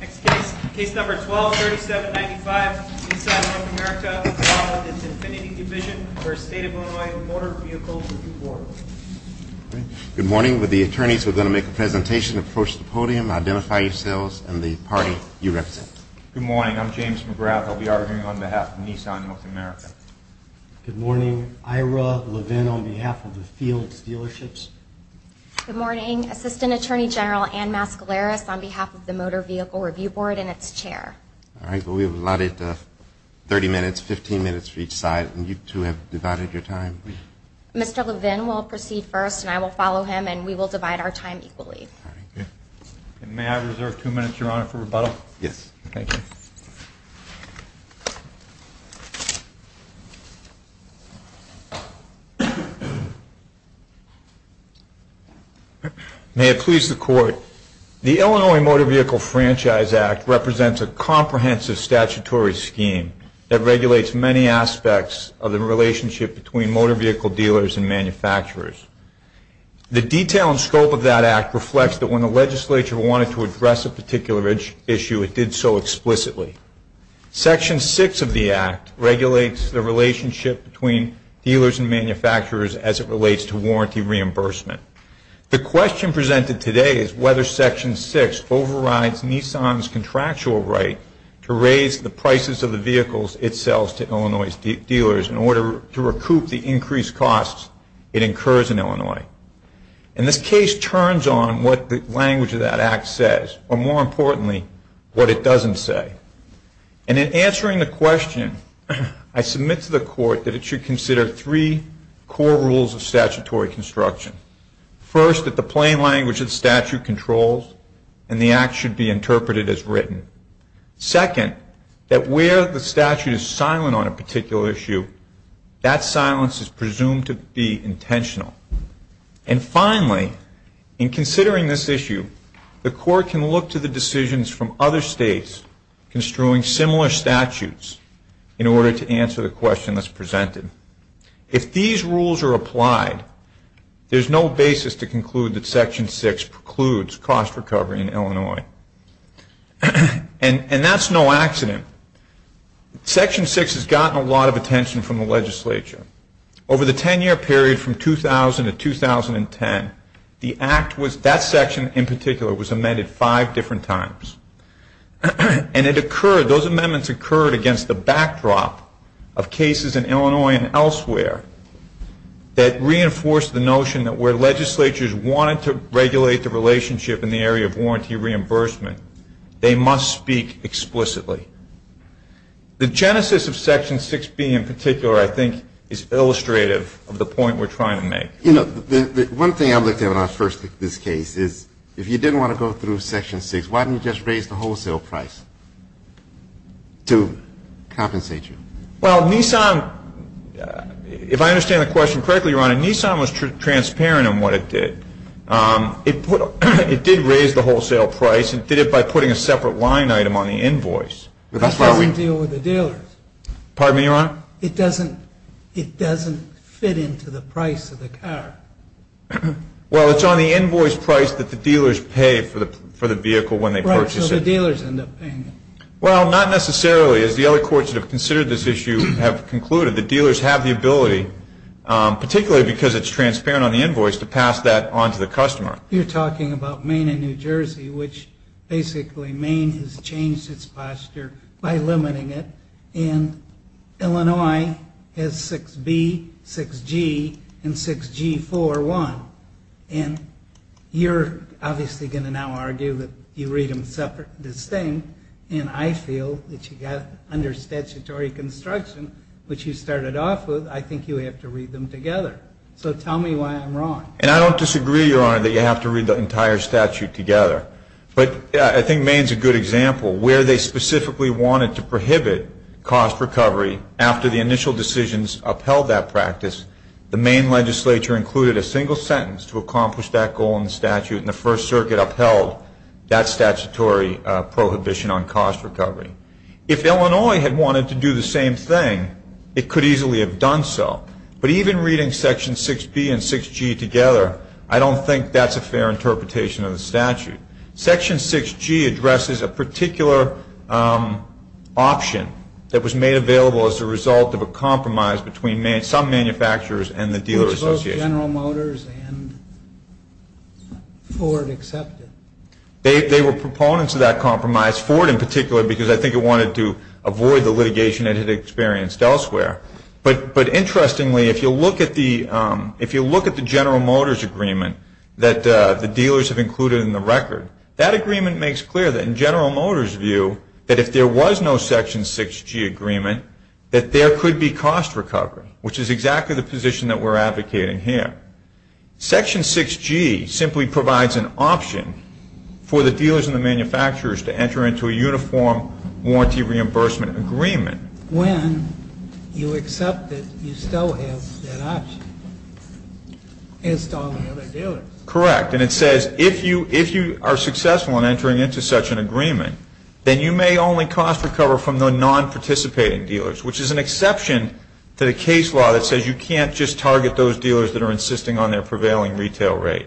Next case, case number 12-3795, Nissan North America, all in its infinity division, v. State of Illinois Motor Vehicle Review Board. Good morning. With the attorneys, we're going to make a presentation. Approach the podium, identify yourselves and the party you represent. Good morning. I'm James McGrath. I'll be arguing on behalf of Nissan North America. Good morning. Ira Levin on behalf of the Fields Dealerships. Good morning. Assistant Attorney General Ann Mascaleras on behalf of the Motor Vehicle Review Board and its chair. All right. Well, we have allotted 30 minutes, 15 minutes for each side, and you two have divided your time. Mr. Levin will proceed first, and I will follow him, and we will divide our time equally. All right. Thank you. And may I reserve two minutes, Your Honor, for rebuttal? Yes. Thank you. May it please the Court, the Illinois Motor Vehicle Franchise Act represents a comprehensive statutory scheme that regulates many aspects of the relationship between motor vehicle dealers and manufacturers. The detail and scope of that act reflects that when the legislature wanted to address a particular issue, it did so explicitly. Section 6 of the act regulates the relationship between dealers and manufacturers as it relates to warranty reimbursement. The question presented today is whether Section 6 overrides Nissan's contractual right to raise the prices of the vehicles it sells to Illinois dealers in order to recoup the increased costs it incurs in Illinois. And this case turns on what the language of that act says, or more importantly, what it doesn't say. And in answering the question, I submit to the Court that it should consider three core rules of statutory construction. First, that the plain language of the statute controls and the act should be interpreted as written. Second, that where the statute is silent on a particular issue, that silence is presumed to be intentional. And finally, in considering this issue, the Court can look to the decisions from other states construing similar statutes in order to answer the question that's presented. If these rules are applied, there's no basis to conclude that Section 6 precludes cost recovery in Illinois. And that's no accident. Section 6 has gotten a lot of attention from the legislature. Over the 10-year period from 2000 to 2010, that section in particular was amended five different times. And those amendments occurred against the backdrop of cases in Illinois and elsewhere that reinforced the notion that where legislatures wanted to regulate the relationship in the area of warranty reimbursement, they must speak explicitly. The genesis of Section 6B in particular, I think, is illustrative of the point we're trying to make. You know, one thing I'm looking at when I first looked at this case is if you didn't want to go through Section 6, why didn't you just raise the wholesale price to compensate you? Well, Nissan, if I understand the question correctly, Your Honor, Nissan was transparent in what it did. It did raise the wholesale price and did it by putting a separate line item on the invoice. That doesn't deal with the dealers. Pardon me, Your Honor? It doesn't fit into the price of the car. Well, it's on the invoice price that the dealers pay for the vehicle when they purchase it. Right, so the dealers end up paying it. Well, not necessarily. As the other courts that have considered this issue have concluded, the dealers have the ability, particularly because it's transparent on the invoice, to pass that on to the customer. You're talking about Maine and New Jersey, which basically Maine has changed its posture by limiting it, and Illinois has 6B, 6G, and 6G41. And you're obviously going to now argue that you read them distinct, and I feel that you got under statutory construction, which you started off with. I think you have to read them together. So tell me why I'm wrong. And I don't disagree, Your Honor, that you have to read the entire statute together. But I think Maine's a good example. Where they specifically wanted to prohibit cost recovery after the initial decisions upheld that practice, the Maine legislature included a single sentence to accomplish that goal in the statute, and the First Circuit upheld that statutory prohibition on cost recovery. If Illinois had wanted to do the same thing, it could easily have done so. But even reading Section 6B and 6G together, I don't think that's a fair interpretation of the statute. Section 6G addresses a particular option that was made available as a result of a compromise between some manufacturers and the dealer association. Which both General Motors and Ford accepted. They were proponents of that compromise, Ford in particular, because I think it wanted to avoid the litigation it had experienced elsewhere. But interestingly, if you look at the General Motors agreement that the dealers have included in the record, that agreement makes clear that in General Motors' view, that if there was no Section 6G agreement, that there could be cost recovery. Which is exactly the position that we're advocating here. Section 6G simply provides an option for the dealers and the manufacturers to enter into a uniform warranty reimbursement agreement. When you accept that you still have that option as to all the other dealers. Correct. And it says if you are successful in entering into such an agreement, then you may only cost recover from the non-participating dealers. Which is an exception to the case law that says you can't just target those dealers that are insisting on their prevailing retail rate.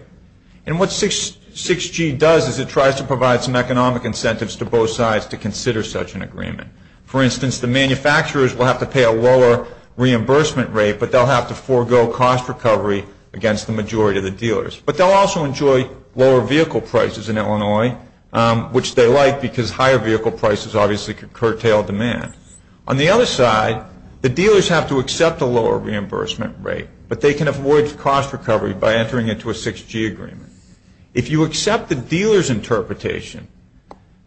And what 6G does is it tries to provide some economic incentives to both sides to consider such an agreement. For instance, the manufacturers will have to pay a lower reimbursement rate, but they'll have to forego cost recovery against the majority of the dealers. But they'll also enjoy lower vehicle prices in Illinois, which they like because higher vehicle prices obviously could curtail demand. On the other side, the dealers have to accept a lower reimbursement rate, but they can avoid cost recovery by entering into a 6G agreement. If you accept the dealer's interpretation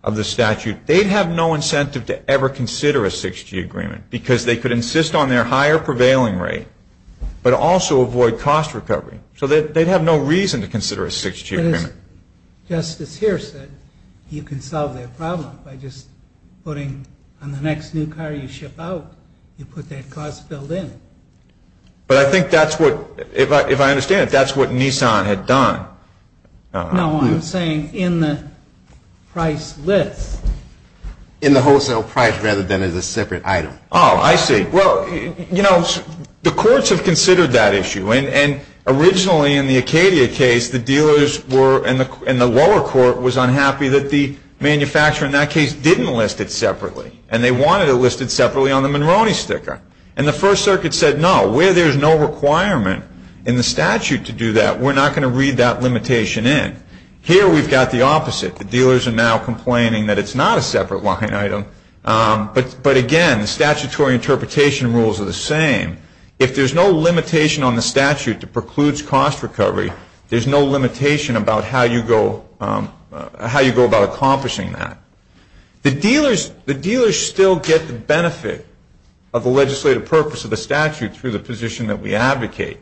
of the statute, they'd have no incentive to ever consider a 6G agreement because they could insist on their higher prevailing rate, but also avoid cost recovery. So they'd have no reason to consider a 6G agreement. Justice here said you can solve that problem by just putting on the next new car you ship out, you put that cost bill in. But I think that's what, if I understand it, that's what Nissan had done. No, I'm saying in the price list. In the wholesale price rather than as a separate item. Oh, I see. Well, you know, the courts have considered that issue. And originally in the Acadia case, the dealers were, and the lower court, was unhappy that the manufacturer in that case didn't list it separately. And they wanted it listed separately on the Monroney sticker. And the First Circuit said, no, where there's no requirement in the statute to do that, we're not going to read that limitation in. Here we've got the opposite. The dealers are now complaining that it's not a separate line item. But again, the statutory interpretation rules are the same. If there's no limitation on the statute that precludes cost recovery, there's no limitation about how you go about accomplishing that. The dealers still get the benefit of the legislative purpose of the statute through the position that we advocate.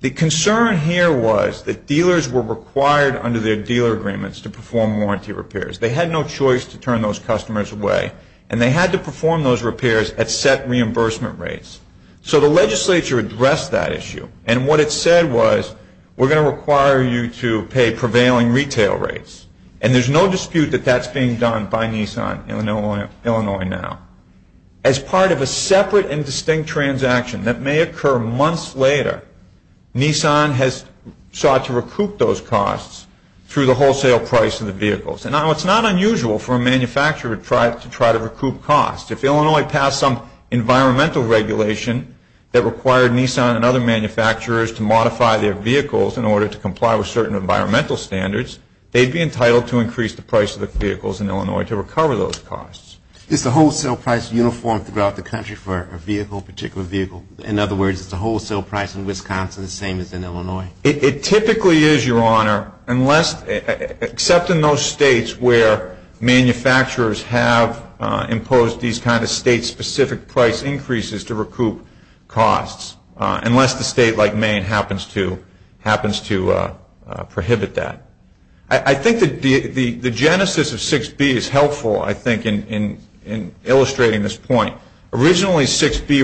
The concern here was that dealers were required under their dealer agreements to perform warranty repairs. They had no choice to turn those customers away. And they had to perform those repairs at set reimbursement rates. So the legislature addressed that issue. And what it said was, we're going to require you to pay prevailing retail rates. And there's no dispute that that's being done by Nissan, Illinois now. As part of a separate and distinct transaction that may occur months later, Nissan has sought to recoup those costs through the wholesale price of the vehicles. Now, it's not unusual for a manufacturer to try to recoup costs. If Illinois passed some environmental regulation that required Nissan and other manufacturers to modify their vehicles in order to comply with certain environmental standards, they'd be entitled to increase the price of the vehicles in Illinois to recover those costs. Is the wholesale price uniform throughout the country for a vehicle, a particular vehicle? In other words, is the wholesale price in Wisconsin the same as in Illinois? It typically is, Your Honor, unless, except in those states where manufacturers have imposed these kind of state-specific price increases to recoup costs, unless the state, like Maine, happens to prohibit that. I think the genesis of 6B is helpful, I think, in illustrating this point. Originally, 6B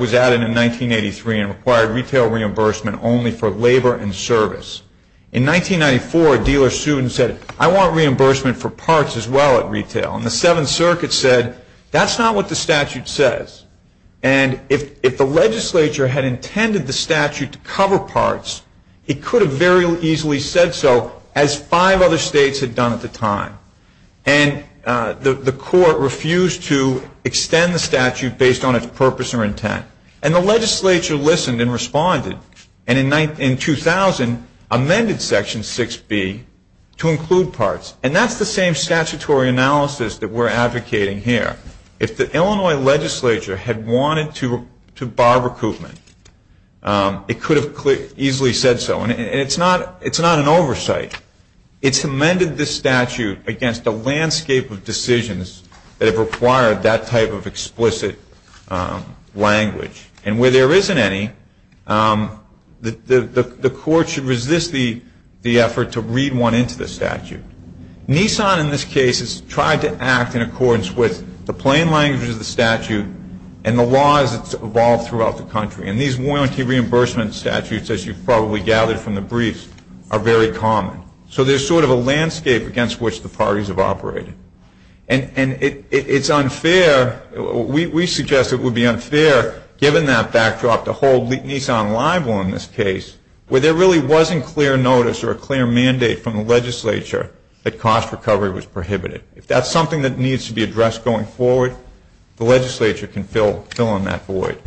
was added in 1983 and required retail reimbursement only for labor and service. In 1994, a dealer sued and said, I want reimbursement for parts as well at retail. And the Seventh Circuit said, that's not what the statute says. And if the legislature had intended the statute to cover parts, it could have very easily said so as five other states had done at the time. And the court refused to extend the statute based on its purpose or intent. And the legislature listened and responded. And in 2000, amended Section 6B to include parts. And that's the same statutory analysis that we're advocating here. If the Illinois legislature had wanted to bar recoupment, it could have easily said so. And it's not an oversight. It's amended the statute against a landscape of decisions that have required that type of explicit language. And where there isn't any, the court should resist the effort to read one into the statute. Nissan, in this case, has tried to act in accordance with the plain language of the statute and the laws that's evolved throughout the country. And these warranty reimbursement statutes, as you've probably gathered from the briefs, are very common. So there's sort of a landscape against which the parties have operated. And it's unfair. We suggest it would be unfair given that backdrop to hold Nissan liable in this case where there really wasn't clear notice or a clear mandate from the legislature that cost recovery was prohibited. If that's something that needs to be addressed going forward, the legislature can fill in that void.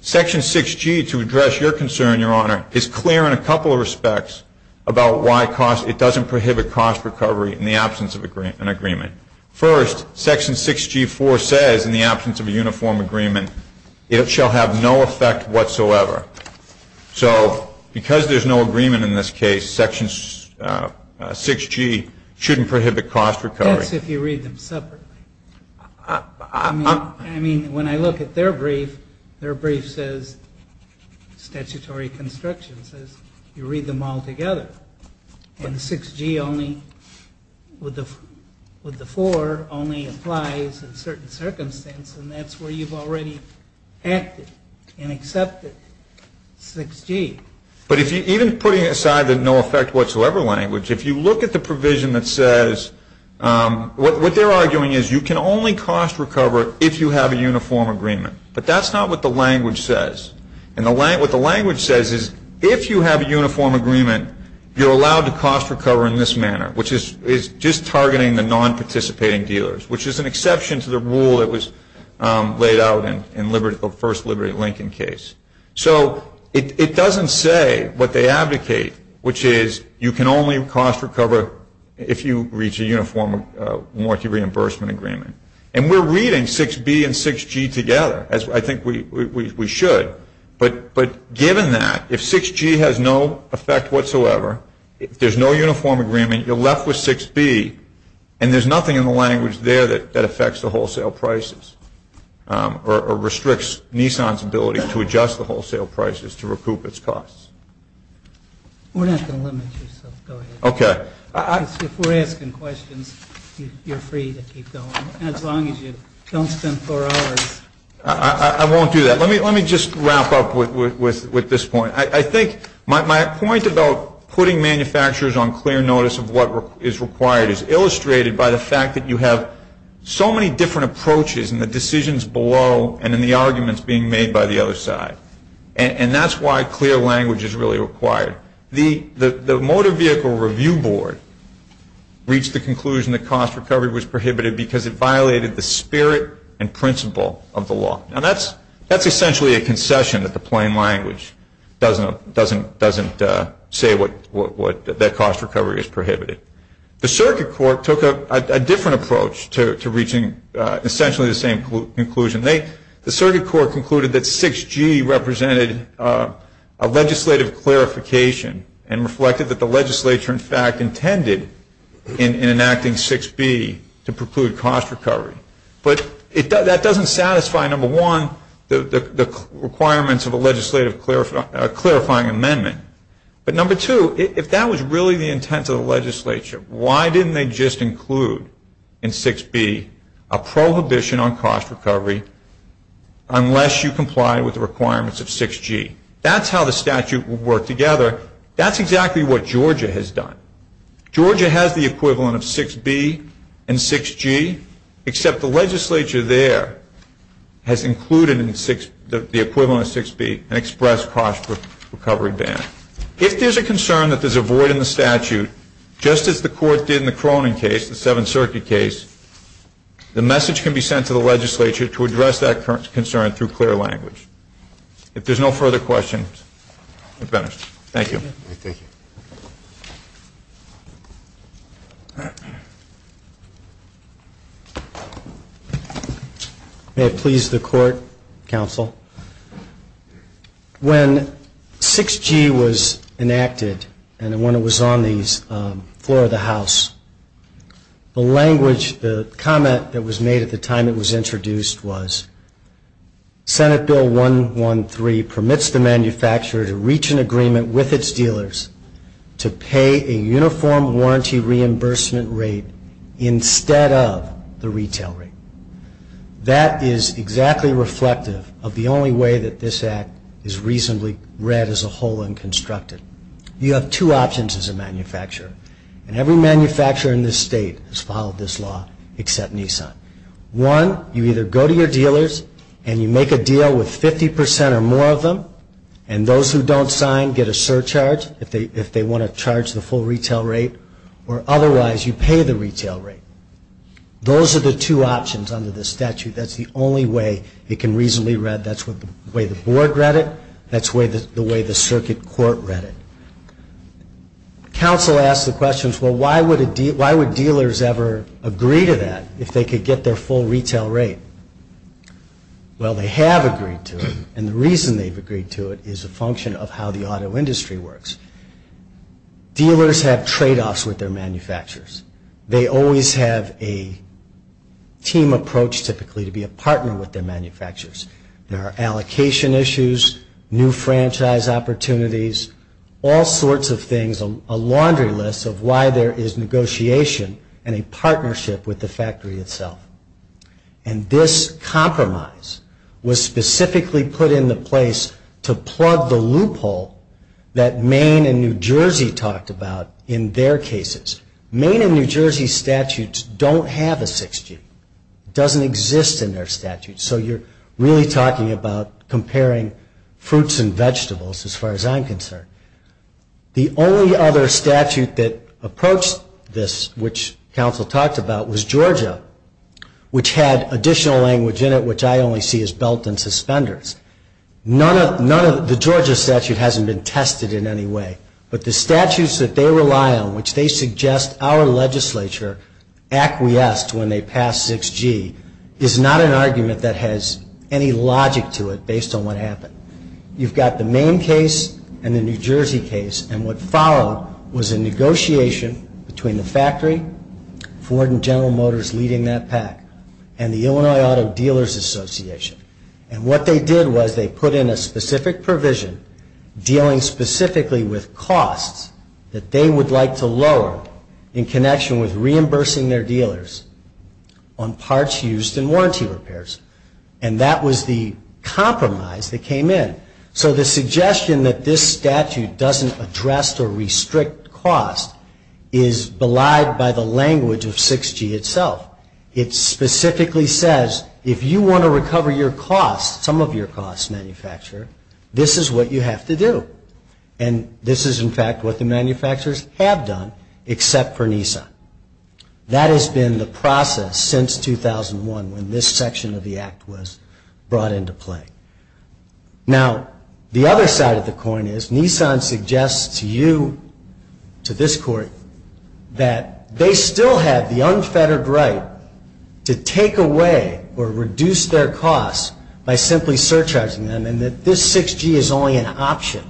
Section 6G, to address your concern, Your Honor, is clear in a couple of respects about why it doesn't prohibit cost recovery in the absence of an agreement. First, Section 6G.4 says, in the absence of a uniform agreement, it shall have no effect whatsoever. So because there's no agreement in this case, Section 6G shouldn't prohibit cost recovery. That's if you read them separately. I mean, when I look at their brief, their brief says, statutory construction says, you read them all together. And 6G only, with the 4, only applies in certain circumstances. And that's where you've already acted and accepted 6G. But even putting aside the no effect whatsoever language, if you look at the provision that says, what they're arguing is you can only cost recover if you have a uniform agreement. But that's not what the language says. What the language says is, if you have a uniform agreement, you're allowed to cost recover in this manner, which is just targeting the non-participating dealers, which is an exception to the rule that was laid out in the first Liberty Lincoln case. So it doesn't say what they advocate, which is you can only cost recover if you reach a uniform warranty reimbursement agreement. And we're reading 6B and 6G together, as I think we should. But given that, if 6G has no effect whatsoever, if there's no uniform agreement, you're left with 6B, and there's nothing in the language there that affects the wholesale prices or restricts Nissan's ability to adjust the wholesale prices to recoup its costs. We're not going to limit you, so go ahead. Okay. If we're asking questions, you're free to keep going, as long as you don't spend four hours. I won't do that. Let me just wrap up with this point. I think my point about putting manufacturers on clear notice of what is required is illustrated by the fact that you have so many different approaches in the decisions below and in the arguments being made by the other side. And that's why clear language is really required. The Motor Vehicle Review Board reached the conclusion that cost recovery was prohibited because it violated the spirit and principle of the law. Now, that's essentially a concession that the plain language doesn't say that cost recovery is prohibited. The Circuit Court took a different approach to reaching essentially the same conclusion. The Circuit Court concluded that 6G represented a legislative clarification and reflected that the legislature, in fact, intended in enacting 6B to preclude cost recovery. But that doesn't satisfy, number one, the requirements of a legislative clarifying amendment. But, number two, if that was really the intent of the legislature, why didn't they just include in 6B a prohibition on cost recovery unless you complied with the requirements of 6G? That's how the statute would work together. That's exactly what Georgia has done. Georgia has the equivalent of 6B and 6G, except the legislature there has included the equivalent of 6B, an express cost recovery ban. If there's a concern that there's a void in the statute, just as the Court did in the Cronin case, the Seventh Circuit case, the message can be sent to the legislature to address that concern through clear language. If there's no further questions, we're finished. Thank you. May it please the Court, Counsel. When 6G was enacted and when it was on the floor of the House, the language, the comment that was made at the time it was introduced was, Senate Bill 113 permits the manufacturer to reach an agreement with its dealers to pay a uniform warranty reimbursement rate instead of the retail rate. That is exactly reflective of the only way that this Act is reasonably read as a whole and constructed. You have two options as a manufacturer, and every manufacturer in this state has followed this law except Nissan. One, you either go to your dealers and you make a deal with 50% or more of them, and those who don't sign get a surcharge if they want to charge the full retail rate, or otherwise you pay the retail rate. Those are the two options under this statute. That's the only way it can reasonably read. That's the way the Board read it. That's the way the Circuit Court read it. Counsel asked the questions, well, why would dealers ever agree to that if they could get their full retail rate? Well, they have agreed to it, and the reason they've agreed to it is a function of how the auto industry works. Dealers have tradeoffs with their manufacturers. They always have a team approach, typically, to be a partner with their manufacturers. There are allocation issues, new franchise opportunities, all sorts of things, a laundry list of why there is negotiation and a partnership with the factory itself. And this compromise was specifically put into place to plug the loophole that Maine and New Jersey talked about in their cases. Maine and New Jersey statutes don't have a 6G. It doesn't exist in their statutes, so you're really talking about comparing fruits and vegetables, as far as I'm concerned. The only other statute that approached this, which counsel talked about, was Georgia, which had additional language in it, which I only see as belt and suspenders. The Georgia statute hasn't been tested in any way, but the statutes that they rely on, which they suggest our legislature acquiesced when they passed 6G, is not an argument that has any logic to it based on what happened. You've got the Maine case and the New Jersey case, and what followed was a negotiation between the factory, Ford and General Motors leading that pack, and the Illinois Auto Dealers Association. And what they did was they put in a specific provision dealing specifically with costs that they would like to lower in connection with reimbursing their dealers on parts used in warranty repairs. And that was the compromise that came in. So the suggestion that this statute doesn't address or restrict cost is belied by the language of 6G itself. It specifically says, if you want to recover your costs, some of your costs, manufacturer, this is what you have to do. And this is, in fact, what the manufacturers have done, except for Nissan. That has been the process since 2001 when this section of the Act was brought into play. Now, the other side of the coin is Nissan suggests to you, to this Court, that they still have the unfettered right to take away or reduce their costs by simply surcharging them, and that this 6G is only an option.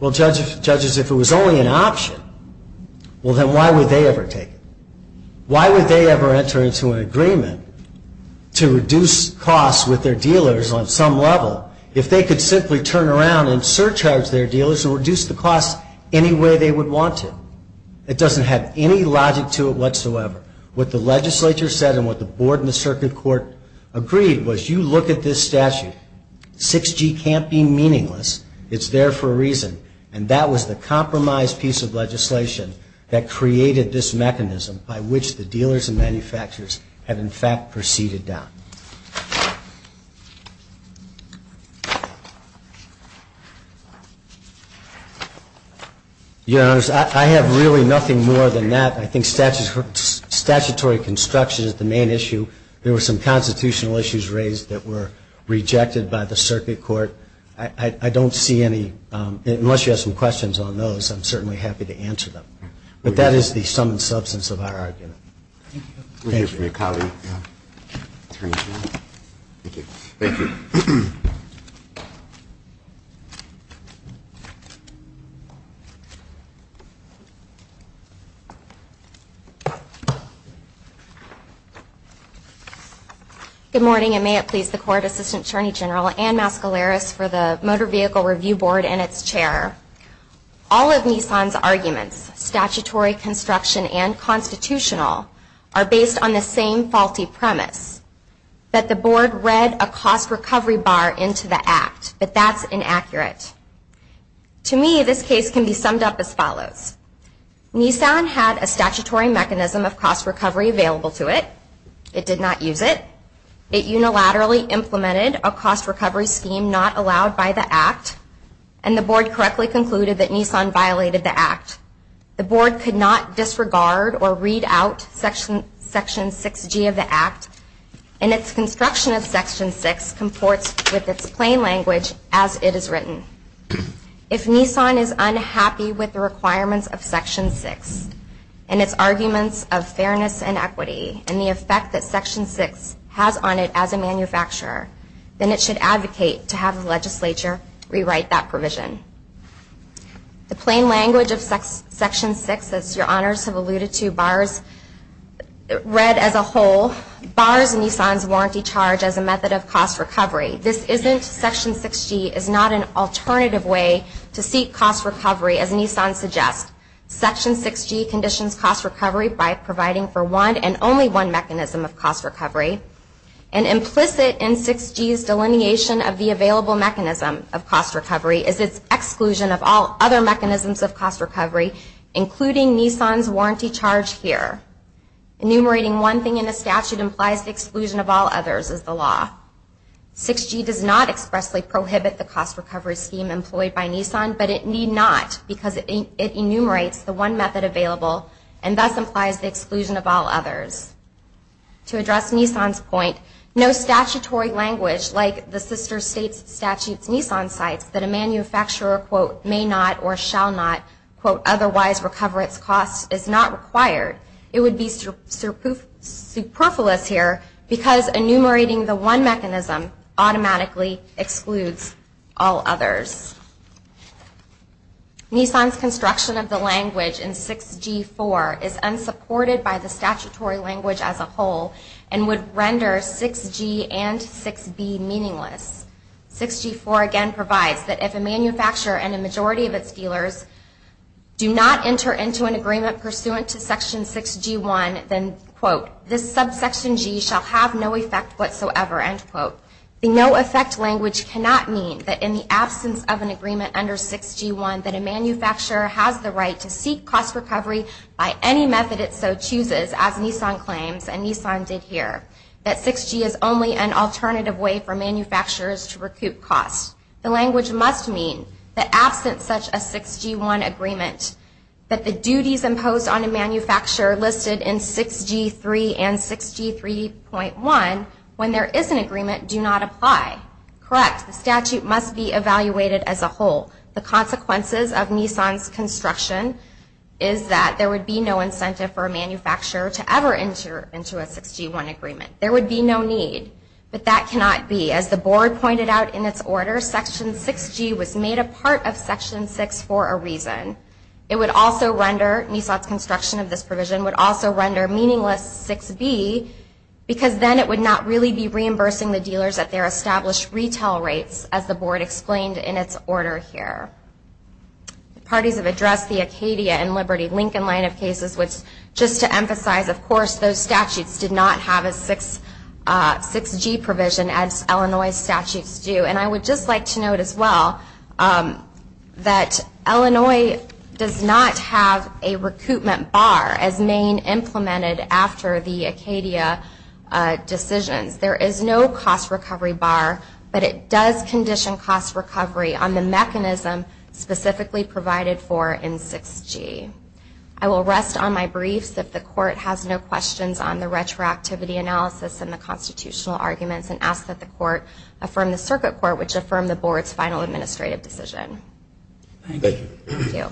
Well, judges, if it was only an option, well, then why would they ever take it? Why would they ever enter into an agreement to reduce costs with their dealers on some level if they could simply turn around and surcharge their dealers and reduce the costs any way they would want to? It doesn't have any logic to it whatsoever. What the legislature said and what the Board and the Circuit Court agreed was, you look at this statute. 6G can't be meaningless. It's there for a reason. And that was the compromise piece of legislation that created this mechanism by which the dealers and manufacturers have, in fact, proceeded down. Your Honor, I have really nothing more than that. I think statutory construction is the main issue. There were some constitutional issues raised that were rejected by the Circuit Court. I don't see any, unless you have some questions on those, I'm certainly happy to answer them. But that is the sum and substance of our argument. Thank you. Good morning, and may it please the Court, Assistant Attorney General Ann Mascaleras for the Motor Vehicle Review Board and its Chair. All of Nissan's arguments, statutory, construction, and constitutional, are based on the same faulty premise, that the Board read a cost recovery bar into the Act. But that's inaccurate. To me, this case can be summed up as follows. Nissan had a statutory mechanism of cost recovery available to it. It did not use it. It unilaterally implemented a cost recovery scheme not allowed by the Act. And the Board correctly concluded that Nissan violated the Act. The Board could not disregard or read out Section 6G of the Act. And its construction of Section 6 comports with its plain language as it is written. If Nissan is unhappy with the requirements of Section 6, and its arguments of fairness and equity, and the effect that Section 6 has on it as a manufacturer, then it should advocate to have the Legislature rewrite that provision. The plain language of Section 6, as your Honors have alluded to, read as a whole, bars Nissan's warranty charge as a method of cost recovery. This isn't Section 6G, is not an alternative way to seek cost recovery, as Nissan suggests. Section 6G conditions cost recovery by providing for one and only one mechanism of cost recovery. And implicit in 6G's delineation of the available mechanism of cost recovery is its exclusion of all other mechanisms of cost recovery, including Nissan's warranty charge here. Enumerating one thing in a statute implies the exclusion of all others is the law. 6G does not expressly prohibit the cost recovery scheme employed by Nissan, but it need not because it enumerates the one method available and thus implies the exclusion of all others. To address Nissan's point, no statutory language like the Sister States Statutes Nissan cites that a manufacturer, quote, may not or shall not, quote, otherwise recover its costs is not required. It would be superfluous here because enumerating the one mechanism automatically excludes all others. Nissan's construction of the language in 6G-4 is unsupported by the statutory language as a whole and would render 6G and 6B meaningless. 6G-4 again provides that if a manufacturer and a majority of its dealers do not enter into an agreement pursuant to Section 6G-1, then, quote, this subsection G shall have no effect whatsoever, end quote. The no effect language cannot mean that in the absence of an agreement under 6G-1 that a manufacturer has the right to seek cost recovery by any method it so chooses, as Nissan claims and Nissan did here, that 6G is only an alternative way for manufacturers to recoup costs. The language must mean that absent such a 6G-1 agreement, that the duties imposed on a manufacturer listed in 6G-3 and 6G-3.1, when there is an agreement, do not apply. Correct, the statute must be evaluated as a whole. The consequences of Nissan's construction is that there would be no incentive for a manufacturer to ever enter into a 6G-1 agreement. There would be no need, but that cannot be. As the Board pointed out in its order, Section 6G was made a part of Section 6 for a reason. It would also render, Nissan's construction of this provision would also render meaningless 6B because then it would not really be reimbursing the dealers at their established retail rates, as the Board explained in its order here. Parties have addressed the Acadia and Liberty Lincoln line of cases, which just to emphasize, of course, those statutes did not have a 6G provision as Illinois statutes do. And I would just like to note as well that Illinois does not have a recoupment bar as Maine implemented after the Acadia decisions. There is no cost recovery bar, but it does condition cost recovery on the mechanism specifically provided for in 6G. I will rest on my briefs if the Court has no questions on the retroactivity analysis and the constitutional arguments and ask that the Court affirm the Circuit Court, which affirmed the Board's final administrative decision. Thank you.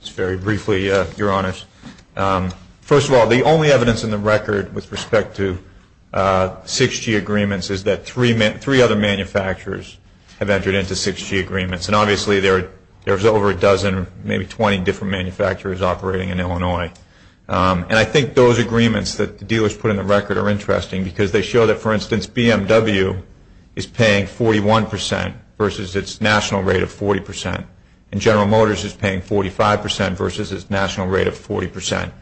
Just very briefly, Your Honors. First of all, the only evidence in the record with respect to 6G agreements is that three other manufacturers have entered into 6G agreements. And obviously there's over a dozen, maybe 20 different manufacturers operating in Illinois. And I think those agreements that the dealers put in the record are interesting because they show that, for instance, BMW is paying 41% versus its national rate of 40%, and General Motors is paying 45% versus its national rate of 40%.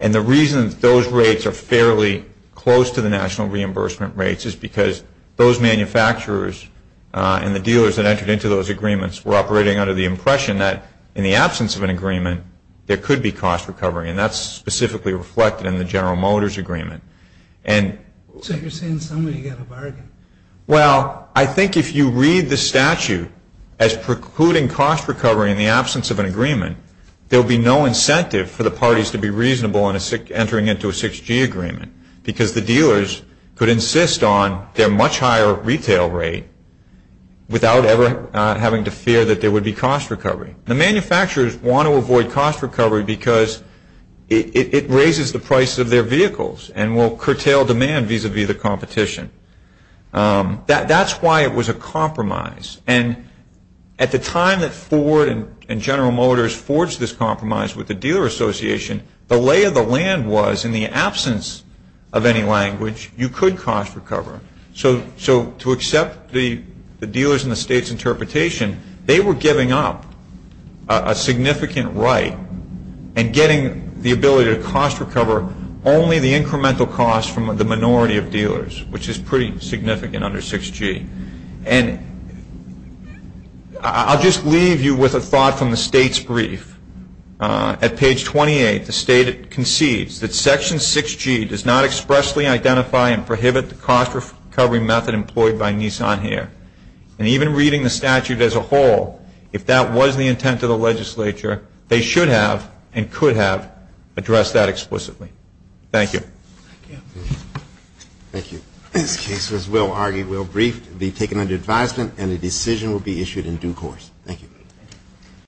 And the reason those rates are fairly close to the national reimbursement rates is because those manufacturers and the dealers that entered into those agreements were operating under the impression that in the absence of an agreement, there could be cost recovery. And that's specifically reflected in the General Motors agreement. So you're saying somebody got a bargain. Well, I think if you read the statute as precluding cost recovery in the absence of an agreement, there will be no incentive for the parties to be reasonable in entering into a 6G agreement because the dealers could insist on their much higher retail rate without ever having to fear that there would be cost recovery. The manufacturers want to avoid cost recovery because it raises the price of their vehicles and will curtail demand vis-a-vis the competition. That's why it was a compromise. And at the time that Ford and General Motors forged this compromise with the Dealer Association, the lay of the land was in the absence of any language, you could cost recover. So to accept the dealers in the state's interpretation, they were giving up a significant right and getting the ability to cost recover only the incremental cost from the minority of dealers, which is pretty significant under 6G. And I'll just leave you with a thought from the state's brief. At page 28, the state concedes that Section 6G does not expressly identify and prohibit the cost recovery method employed by Nissan here. And even reading the statute as a whole, if that was the intent of the legislature, they should have and could have addressed that explicitly. Thank you. Thank you. This case was well argued, well briefed. It will be taken under advisement and a decision will be issued in due course. Thank you.